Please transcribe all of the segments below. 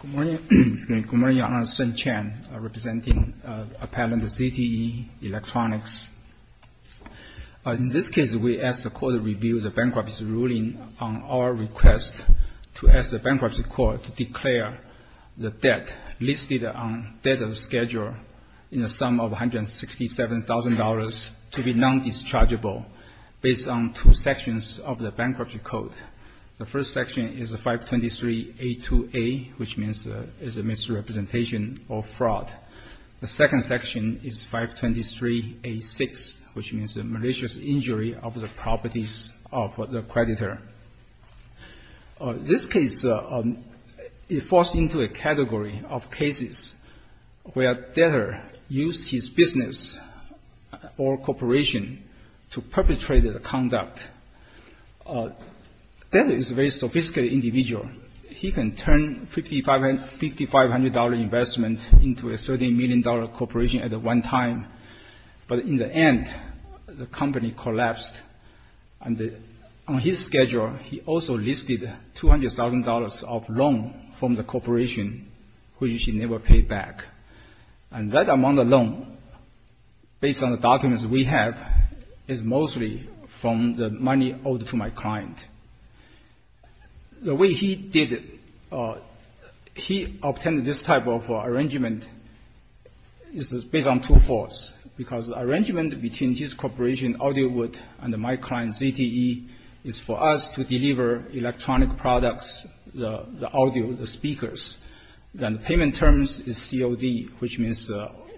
Good morning, Your Honor. Sun Chen, representing appellant Zte Electronics. In this case, we ask the court to review the bankruptcy ruling on our request to ask the Bankruptcy Court to declare the debt listed on the debtor's schedule in the sum of $167,000 to be non-dischargeable based on two sections of the Bankruptcy Code. The first section is 523A2A, which means it's a misrepresentation or fraud. The second section is 523A6, which means a malicious injury of the properties of the creditor. This case falls into a category of cases where debtor used his business or corporation to perpetrate the conduct. Debtor is a very sophisticated individual. He can turn $5,500 investment into a $30 million corporation at one time, but in the end, the company collapsed. On his schedule, he also listed $200,000 of loan from the corporation, which he never paid back. And that amount of loan, based on the documents we have, is mostly from the money owed to my client. The way he did it, he obtained this type of arrangement. This is based on two faults, because the arrangement between his corporation, AudioWood, and my client, Zte, is for us to deliver electronic products, the audio, the speakers. And the payment terms is COD, which means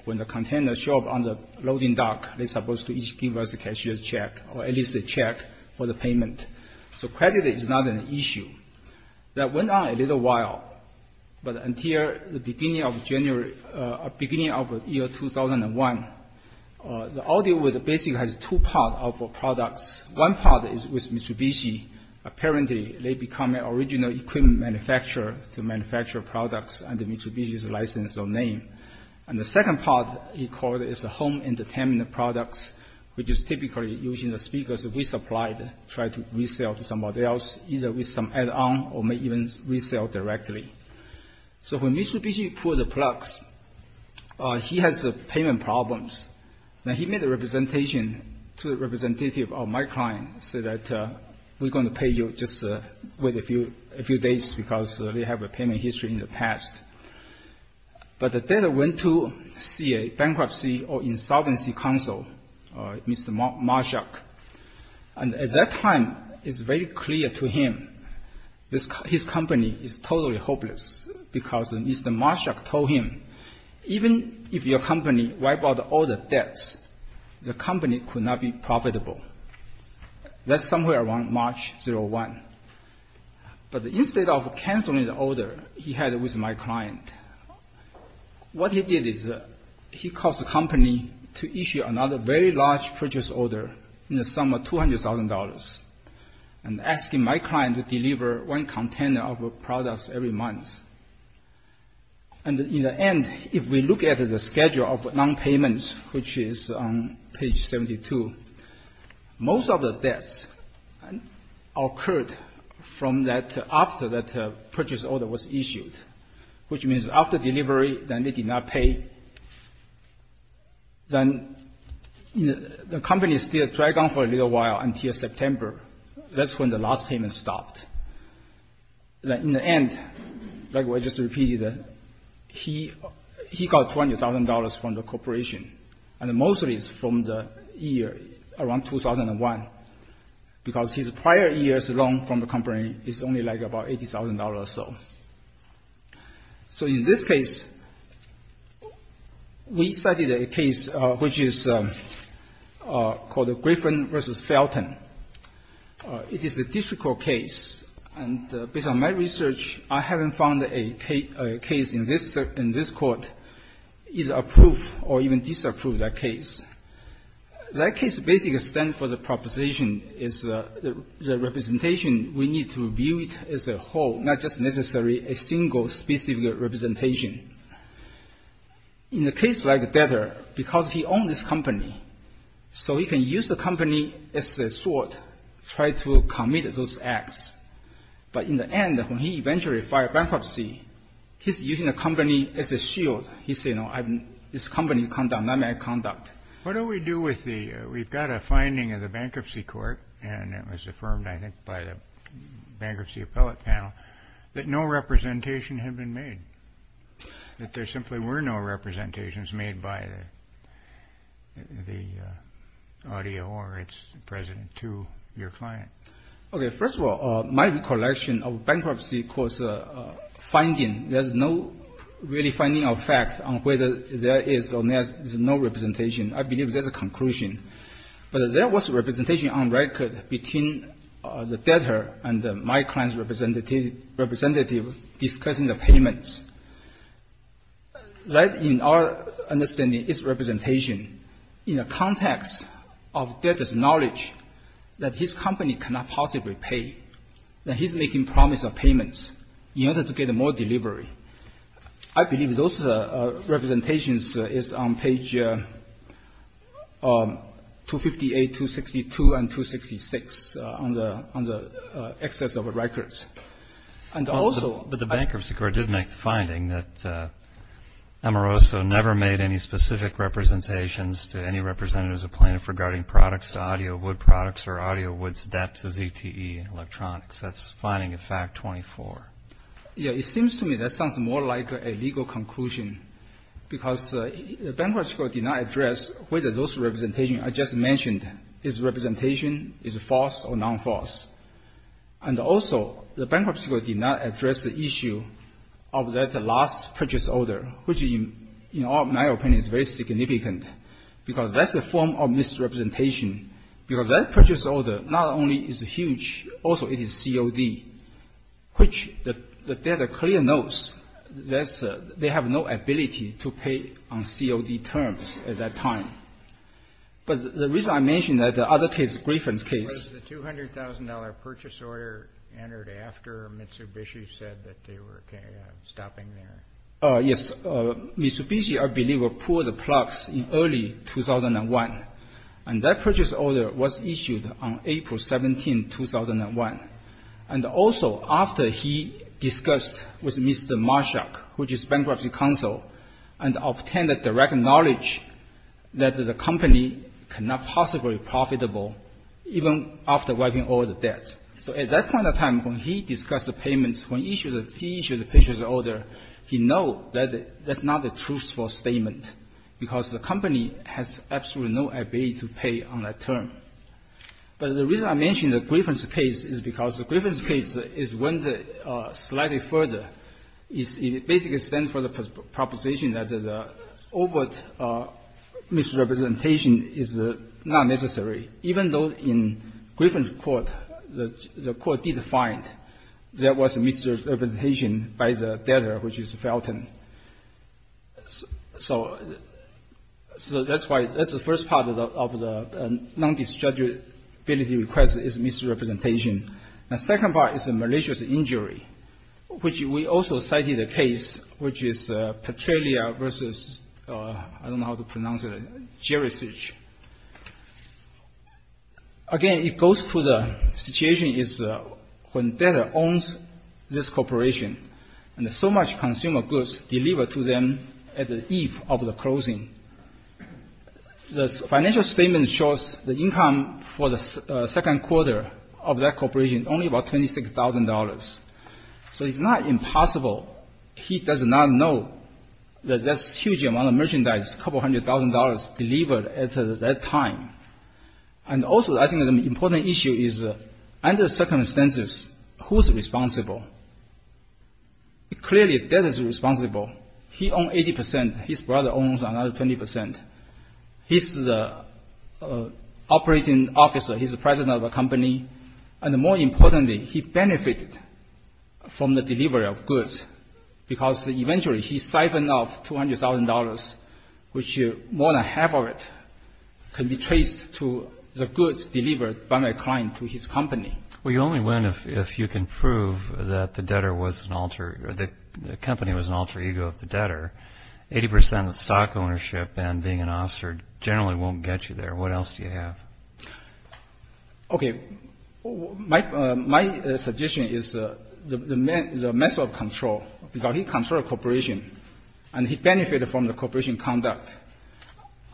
when the container show up on the loading dock, they're supposed to give us a cashier's check, or at least a check for the payment. So credit is not an issue. That went on a little while, but until the beginning of January, beginning of year 2001, the AudioWood basically has two parts of products. One part is with Mitsubishi. Apparently, they become an original equipment manufacturer to manufacture products under Mitsubishi's license or name. And the second part, he called it, is the home entertainment products, which is typically using the speakers that we supplied, try to resell to somebody else, either with some add-on, or may even resell directly. So when Mitsubishi pulled the plug, he had payment problems. He made a representation to a representative of my client, said that, we're going to pay you just wait a few days, because they have a payment history in the past. But the debtor went to see a bankruptcy or insolvency counsel, Mr. Marshak, and at that time, it's very clear to him, his company is totally hopeless, because Mr. Marshak told him, even if your company wipe out all the debts, the company could not be profitable. That's somewhere around March 2001. But instead of canceling the order he had with my client, what he did is, he called the company to issue another very large purchase order in the sum of $200,000, and asking my client to deliver one container of products every month. And in the end, if we look at the schedule of non-payments, which is on page 72, most of the debts occurred from that, after that purchase order was issued, which means after delivery, then they did not pay. Then the company still dragged on for a little while until September. That's when the last payment stopped. In the end, like I just repeated, he got $20,000 from the corporation, and mostly it's from the year around 2001, because his prior year's loan from the company is only like about $80,000 or so. So in this case, we studied a case which is called Griffin v. Felton. It is a district court case, and based on my research, I haven't found a case in this court either approved or even disapproved that case. That case basically stands for the proposition is the representation, we need to review it as a whole, not just necessarily a single, specific representation. In a case like this, I think it's better because he owned this company, so he can use the company as a sword, try to commit those acts. But in the end, when he eventually filed bankruptcy, he's using the company as a shield. He said, no, this company conduct, not my conduct. What do we do with the we've got a finding of the bankruptcy court, and it was affirmed, I think, by the bankruptcy appellate panel, that no representation had been made, that there simply were no representations made by the audio or its president to your client. Okay, first of all, my recollection of bankruptcy court's finding, there's no really finding of fact on whether there is or there's no representation. I believe there's a conclusion. But there was representation on record between the debtor and my client's representative discussing the payments. Right in our understanding, it's representation in a context of debtor's knowledge that his company cannot possibly pay, that he's making promise of payments in order to get more delivery. I believe those representations is on page 258, 262, and 266 on the excess of records. And also- But the bankruptcy court did make the finding that Amoroso never made any specific representations to any representatives of plaintiff regarding products, audio, wood products, or audio, Yeah, it seems to me that sounds more like a legal conclusion, because the bankruptcy court did not address whether those representations I just mentioned is representation, is false or non-false. And also, the bankruptcy court did not address the issue of that last purchase order, which in my opinion is very significant, because that's the form of misrepresentation, because that purchase order not only is huge, also it is COD, which the debtor clearly knows that they have no ability to pay on COD terms at that time. But the reason I mention that, the other case, Griffin's case- Was the $200,000 purchase order entered after Mitsubishi said that they were stopping there? Yes. Mitsubishi, I believe, pulled the plug in early 2001, and that purchase order was issued on April 17, 2001. And also, after he discussed with Mr. Marshak, which is bankruptcy counsel, and obtained the direct knowledge that the company cannot possibly be profitable even after wiping all the debts. So at that point of time, when he discussed the payments, when he issued the purchase order, he know that that's not a truthful statement because the company has absolutely no ability to pay on that term. But the reason I mention the Griffin's case is because the Griffin's case went slightly further. It basically stands for the proposition that the overt misrepresentation is not necessary, even though in Griffin's court, the court did find there was a misrepresentation by the debtor, which is Felton. So that's why that's the first part of the non-dischargeability request is misrepresentation. The second part is a malicious injury, which we also cited a case, which is Petrelia versus, I don't know how to pronounce it, Gerisich. Again, it goes to the situation is when debtor owns this corporation, and so much consumer goods delivered to them at the eve of the closing, the financial statement shows the income for the second quarter of that corporation only about $26,000. So it's not impossible he does not know that that's a huge amount of merchandise, a couple hundred thousand dollars delivered at that time. And also, I think an important issue is under circumstances, who's responsible? Clearly, debtor's responsible. He owns 80 percent. His brother owns another 20 percent. He's the operating officer. He's the president of a company. And more importantly, he benefited from the delivery of goods because eventually he siphoned off $200,000, which more than half of it can be traced to the goods delivered by my client to his company. Well, you only win if you can prove that the company was an alter ego of the debtor. 80 percent of stock ownership and being an officer generally won't get you there. What else do you have? Okay. My suggestion is the method of control, because he controlled a corporation, and he benefited from the corporation conduct.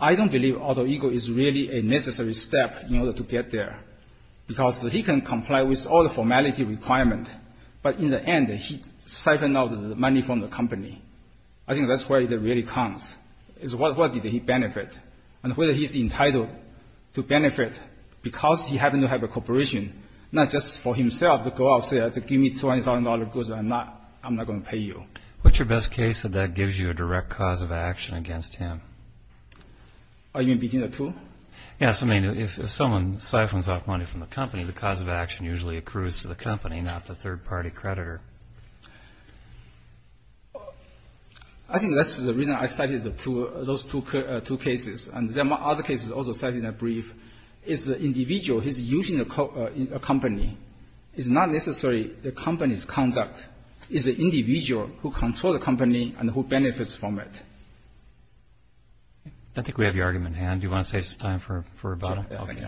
I don't believe alter ego is really a necessary step in order to get there, because he can comply with all the formality requirement, but in the end, he siphoned out the money from the company. I think that's where it really comes, is what did he benefit, and whether he's entitled to benefit, because he happened to have a corporation, not just for himself to go out there to give me $200,000 of goods, I'm not going to pay you. What's your best case that that gives you a direct cause of action against him? Are you in between the two? Yes. I mean, if someone siphons off money from the company, the cause of action usually accrues to the company, not the third-party creditor. I think that's the reason I cited those two cases, and there are other cases also cited in that brief. It's the individual who's using a company. It's not necessarily the company's conduct. It's the individual who controls the company and who benefits from it. I think we have your argument in hand. Do you want to save some time for rebuttal? Yes, I do.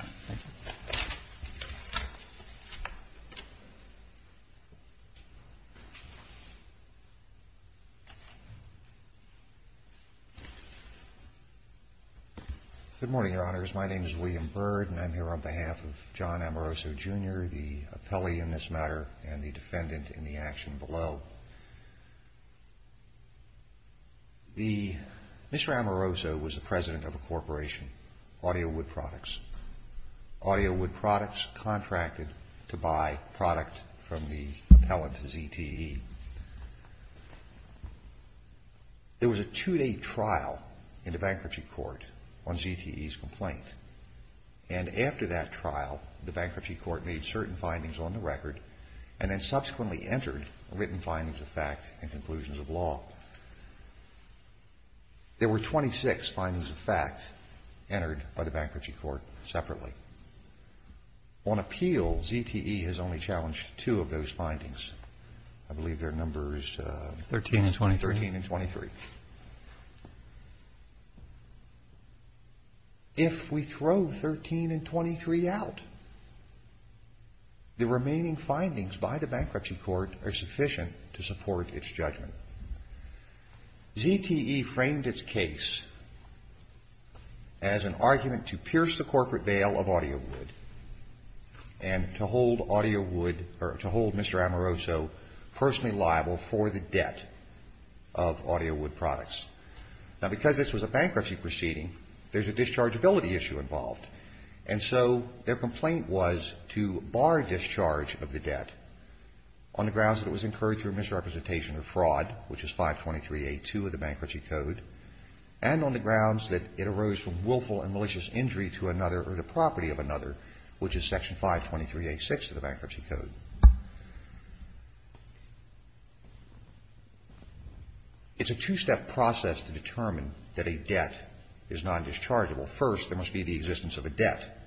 Good morning, Your Honors. My name is William Byrd, and I'm here on behalf of John Amoroso, Jr., the appellee in this matter, and the defendant in the action below. Mr. Amoroso was the president of a corporation, Audio Wood Products. Audio Wood Products contracted to buy product from the appellant, ZTE. There was a two-day trial in the bankruptcy court on ZTE's complaint, and after that trial, the bankruptcy court made certain findings on the record and then subsequently entered written findings of fact and conclusions of law. There were 26 findings of fact entered by the bankruptcy court separately. On appeal, ZTE has only challenged two of those findings. I believe their number is 13 and 23. If we throw 13 and 23 out, the remaining findings by the bankruptcy court are sufficient to support its judgment. ZTE framed its case as an argument to pierce the corporate veil of Audio Wood and to hold Mr. Amoroso personally liable for the debt of Audio Wood. Now, because this was a bankruptcy proceeding, there's a dischargeability issue involved. And so their complaint was to bar discharge of the debt on the grounds that it was incurred through misrepresentation or fraud, which is 523A2 of the bankruptcy code, and on the grounds that it arose from willful and malicious injury to another or the property of another, which is Section 523A6 of the bankruptcy Now, the bankruptcy court used that process to determine that a debt is nondischargeable. First, there must be the existence of a debt,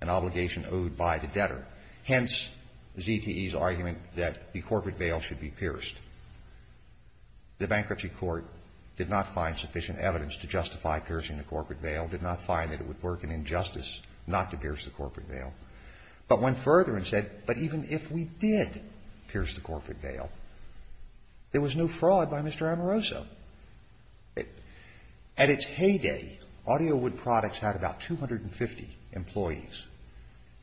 an obligation owed by the debtor. Hence, ZTE's argument that the corporate veil should be pierced. The bankruptcy court did not find sufficient evidence to justify piercing the corporate veil, did not find that it would work an injustice not to pierce the corporate veil. But went further and said, but even if we did pierce the corporate veil, there was no fraud by Mr. Amoroso. At its heyday, Audio Wood Products had about 250 employees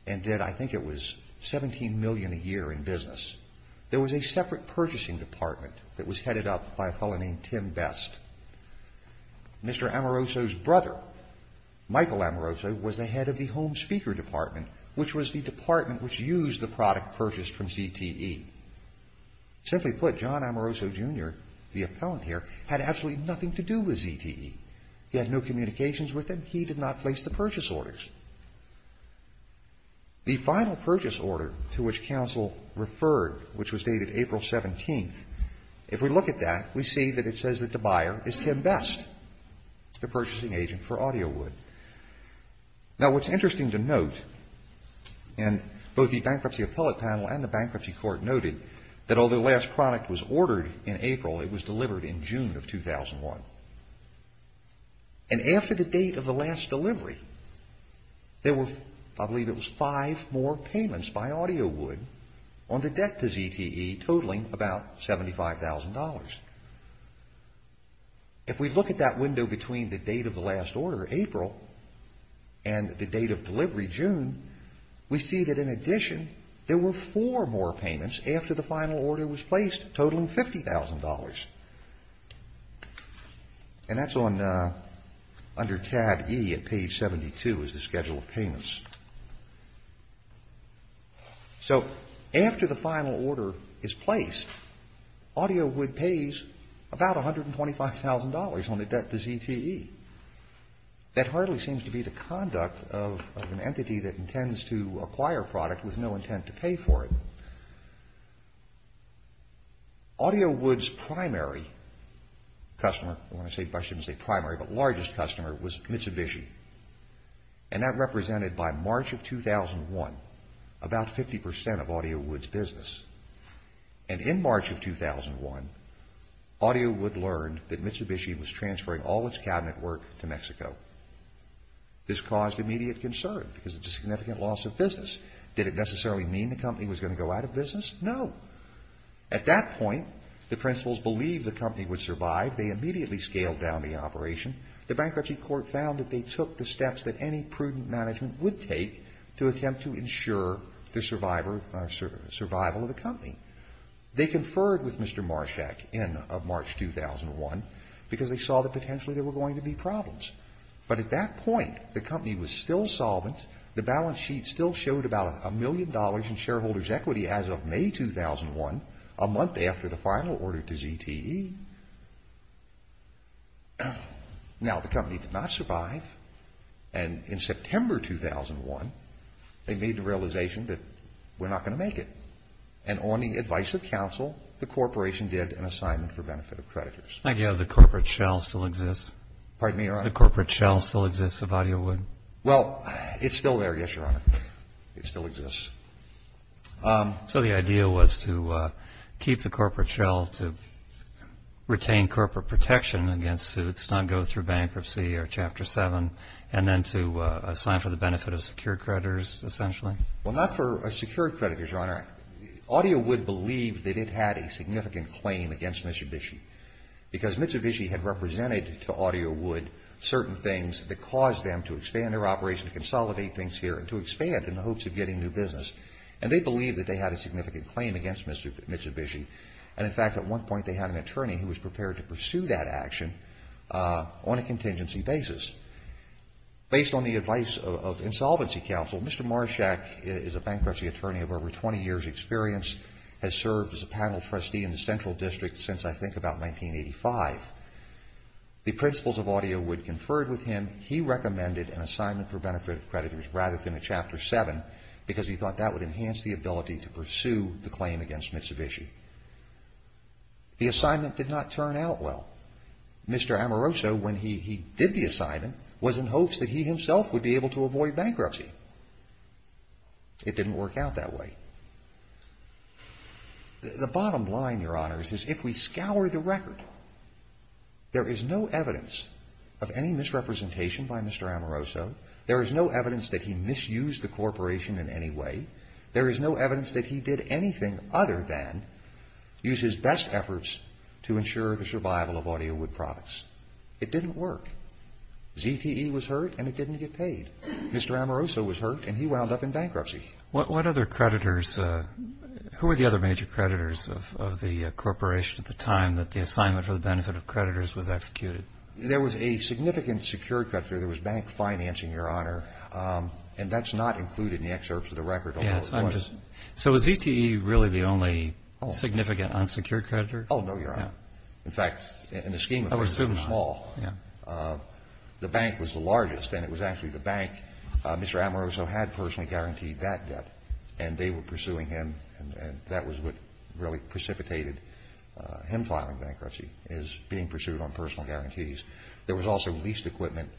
and did, I think it was, 17 million a year in business. There was a separate purchasing department that was headed up by a fellow named Tim Best. Mr. Amoroso's brother, Michael Amoroso, was the head of the Home Speaker Department, which was the department which used the product purchased from ZTE. Simply put, John Amoroso, Jr., the appellant here, had absolutely nothing to do with ZTE. He had no communications with them. He did not place the purchase orders. The final purchase order to which counsel referred, which was dated April 17th, if we look at that, we see that it says that the buyer is Tim Best, the purchasing agent for Audio Wood. Now, what's interesting to note, and both the bankruptcy appellate panel and the bankruptcy court noted, that although the last product was ordered in April, it was delivered in June of 2001. And after the date of the last delivery, there were, I believe it was, five more payments by Audio Wood on the debt to ZTE, totaling about $75,000. If we look at that window between the date of the last order, April, and the date of delivery, June, we see that in addition, there were four more payments after the final order was placed, totaling $50,000. And that's under tab E at page 72, is the schedule of payments. So, after the final order is placed, Audio Wood pays about $125,000 on the debt to ZTE. That hardly seems to be the conduct of an entity that intends to acquire a product with no intent to pay for it. Audio Wood's primary customer, I shouldn't say primary, but largest customer was Mitsubishi. And that represented, by March of 2001, about 50% of Audio Wood's business. And in March of 2001, Audio Wood learned that Mitsubishi was transferring all its cabinet work to Mexico. This caused immediate concern, because it's a significant loss of business. Did it necessarily mean the company was going to go out of business? No. At that point, the principals believed the company would survive. They immediately scaled down the operation. The Bankruptcy Court found that they took the steps that any prudent management would take to attempt to ensure the survival of the company. They conferred with Mr. Marshak in March 2001, because they saw that potentially there were going to be problems. But at that point, the company was still solvent. The balance sheet still showed about a million dollars in shareholders' equity as of May 2001, a month after the final order to ZTE. Now, the company did not survive. And in September 2001, they made the realization that we're not going to make it. And on the advice of counsel, the corporation did an assignment for benefit of creditors. I gather the corporate shell still exists. Pardon me, Your Honor? The corporate shell still exists of Audio Wood. Well, it's still there, yes, Your Honor. It still exists. So the idea was to keep the corporate shell, to retain corporate protection against suits, not go through bankruptcy or Chapter 7, and then to assign for the benefit of secured creditors, essentially? Well, not for secured creditors, Your Honor. All right. Audio Wood believed that it had a significant claim against Mitsubishi. Because Mitsubishi had represented to Audio Wood certain things that caused them to expand their operation, consolidate things here, and to expand in the hopes of getting new business. And they believed that they had a significant claim against Mitsubishi. And in fact, at one point, they had an attorney who was prepared to pursue that action on a contingency basis. Based on the advice of insolvency counsel, Mr. Marshak is a bankruptcy attorney of over 20 years' experience, has served as a panel trustee in the Central District since, I think, about 1985. The principles of Audio Wood conferred with him. He recommended an assignment for benefit of creditors rather than a Chapter 7, because he thought that would enhance the ability to pursue the claim against Mitsubishi. The assignment did not turn out well. Mr. Amoroso, when he did the assignment, was in hopes that he himself would be able to avoid bankruptcy. It didn't work out that way. The bottom line, Your Honors, is if we scour the record, there is no evidence of any misrepresentation by Mr. Amoroso. There is no evidence that he misused the corporation in any way. There is no evidence that he did anything other than use his best efforts to ensure the survival of Audio Wood products. It didn't work. ZTE was hurt, and it didn't get paid. Mr. Amoroso was hurt, and he wound up in bankruptcy. What other creditors? Who were the other major creditors of the corporation at the time that the assignment for the benefit of creditors was executed? There was a significant secured creditor. There was bank financing, Your Honor, and that's not included in the excerpts of the record. So was ZTE really the only significant unsecured creditor? Oh, no, Your Honor. In fact, in the scheme of things, it was small. The bank was the largest, and it was actually the bank. Mr. Amoroso had personally guaranteed that debt, and they were pursuing him, and that was what really precipitated him filing bankruptcy, is being pursued on personal guarantees. There was also leased equipment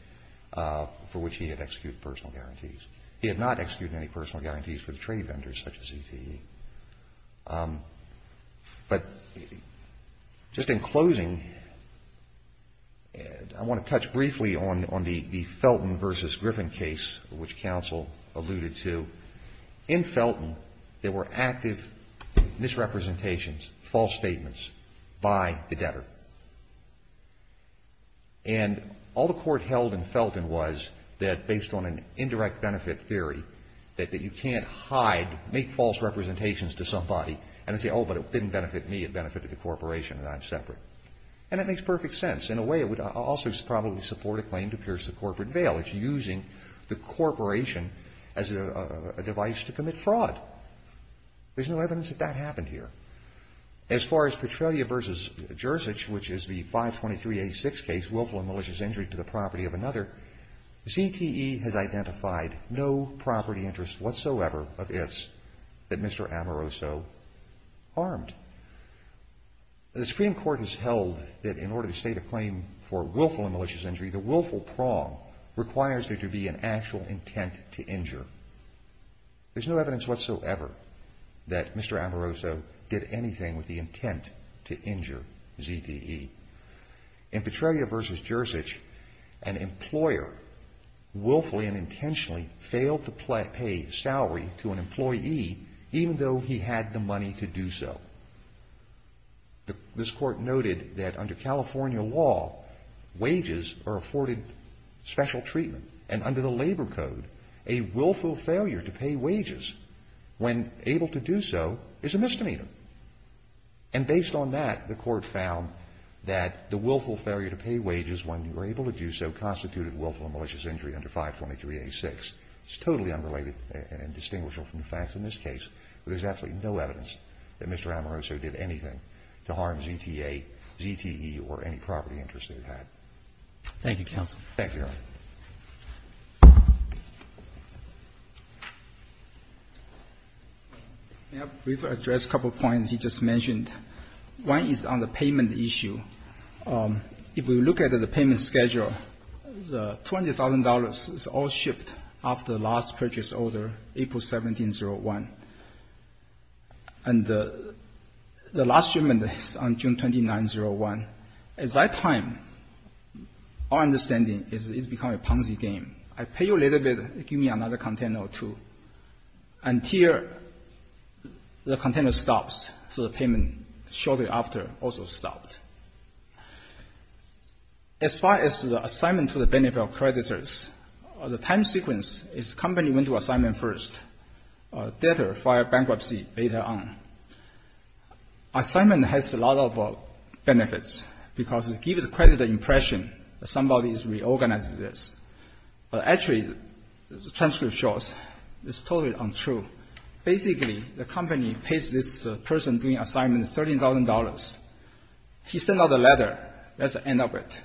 for which he had executed personal guarantees. He had not executed any personal guarantees for the trade vendors such as ZTE. But just in closing, I want to touch briefly on the Felton v. Griffin case, which counsel alluded to. In Felton, there were active misrepresentations, false statements by the debtor. And all the court held in Felton was that based on an indirect benefit theory, that you can't hide, make false representations to somebody and say, oh, but it didn't benefit me. It benefited the corporation and I'm separate. And that makes perfect sense. In a way, it would also probably support a claim to pierce the corporate veil. It's using the corporation as a device to commit fraud. There's no evidence that that happened here. As far as Petrelia v. Jerzich, which is the 523A6 case, willful and malicious injury to the property of another, ZTE has identified no property interest whatsoever of its that Mr. Amoroso harmed. The Supreme Court has held that in order to state a claim for willful and malicious injury, the willful prong requires there to be an actual intent to injure. There's no evidence whatsoever that Mr. Amoroso did anything with the intent to injure ZTE. In Petrelia v. Jerzich, an employer willfully and intentionally failed to pay salary to an employee even though he had the money to do so. This Court noted that under California law, wages are afforded special treatment, and under the Labor Code, a willful failure to pay wages when able to do so is a misdemeanor. And based on that, the Court found that the willful failure to pay wages when you were able to do so constituted willful and malicious injury under 523A6. It's totally unrelated and distinguishable from the facts in this case, but there's absolutely no evidence that Mr. Amoroso did anything to harm ZTE or any property interest that he had. Roberts. Thank you, counsel. Thank you, Your Honor. May I briefly address a couple of points you just mentioned? One is on the payment issue. If we look at the payment schedule, the $20,000 is all shipped after the last purchase order, April 17, 2001, and the last shipment is on June 29, 2001. At that time, our understanding is it's become a Ponzi game. I pay you a little bit, give me another container or two, until the container stops, so the payment shortly after also stops. As far as the assignment to the benefit of creditors, the time sequence is company went to assignment first, debtor filed bankruptcy later on. Assignment has a lot of benefits because it gives the creditor impression that somebody has reorganized this. Actually, the transcript shows it's totally untrue. Basically, the company pays this person doing assignment $13,000. He sent out a letter. That's the end of it.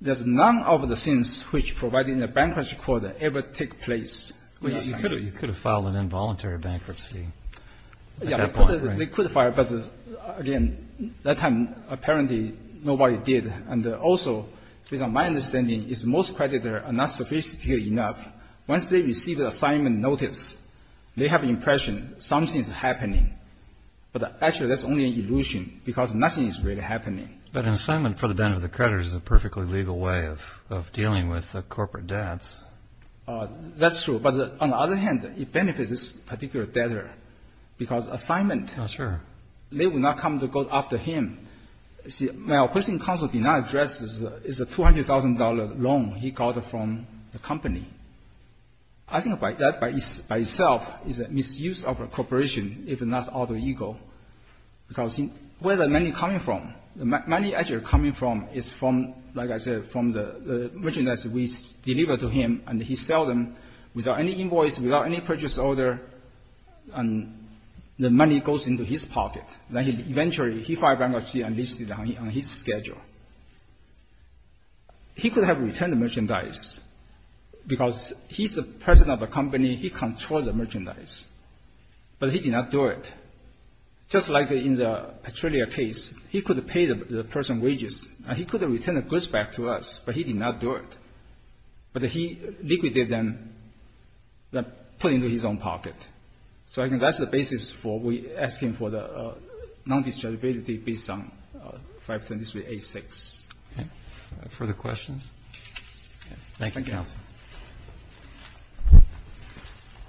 There's none of the things which provided in the bankruptcy quota ever take place. You could have filed an involuntary bankruptcy at that point. They could have filed, but again, at that time, apparently nobody did. And also, based on my understanding, is most creditors are not sophisticated enough. Once they receive the assignment notice, they have the impression something is happening. But actually, that's only an illusion because nothing is really happening. But an assignment for the benefit of creditors is a perfectly legal way of dealing with corporate debts. That's true. But on the other hand, it benefits this particular debtor because assignment, they will not come to go after him. See, my opposing counsel did not address this $200,000 loan he got from the company. I think that by itself is a misuse of a corporation, if not out of ego, because where the money coming from? The money actually coming from is from, like I said, from the merchandise we deliver to him, and he sell them without any invoice, without any purchase order, and the money goes into his pocket. Then eventually, he filed bankruptcy and listed it on his schedule. He could have returned the merchandise because he's the president of the company. He controls the merchandise, but he did not do it. Just like in the Petrelia case, he could have paid the person wages, and he could have returned the goods back to us, but he did not do it. But he liquidated them, put into his own pocket. So I think that's the basis for we asking for the non-dischargeability based on 523A6. Okay. Further questions? Thank you, counsel.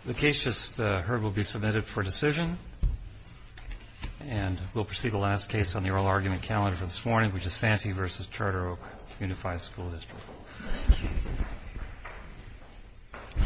The case just heard will be submitted for decision. And we'll proceed to the last case on the oral argument calendar for this morning, which is Santee v. Charter Oak Unified School District.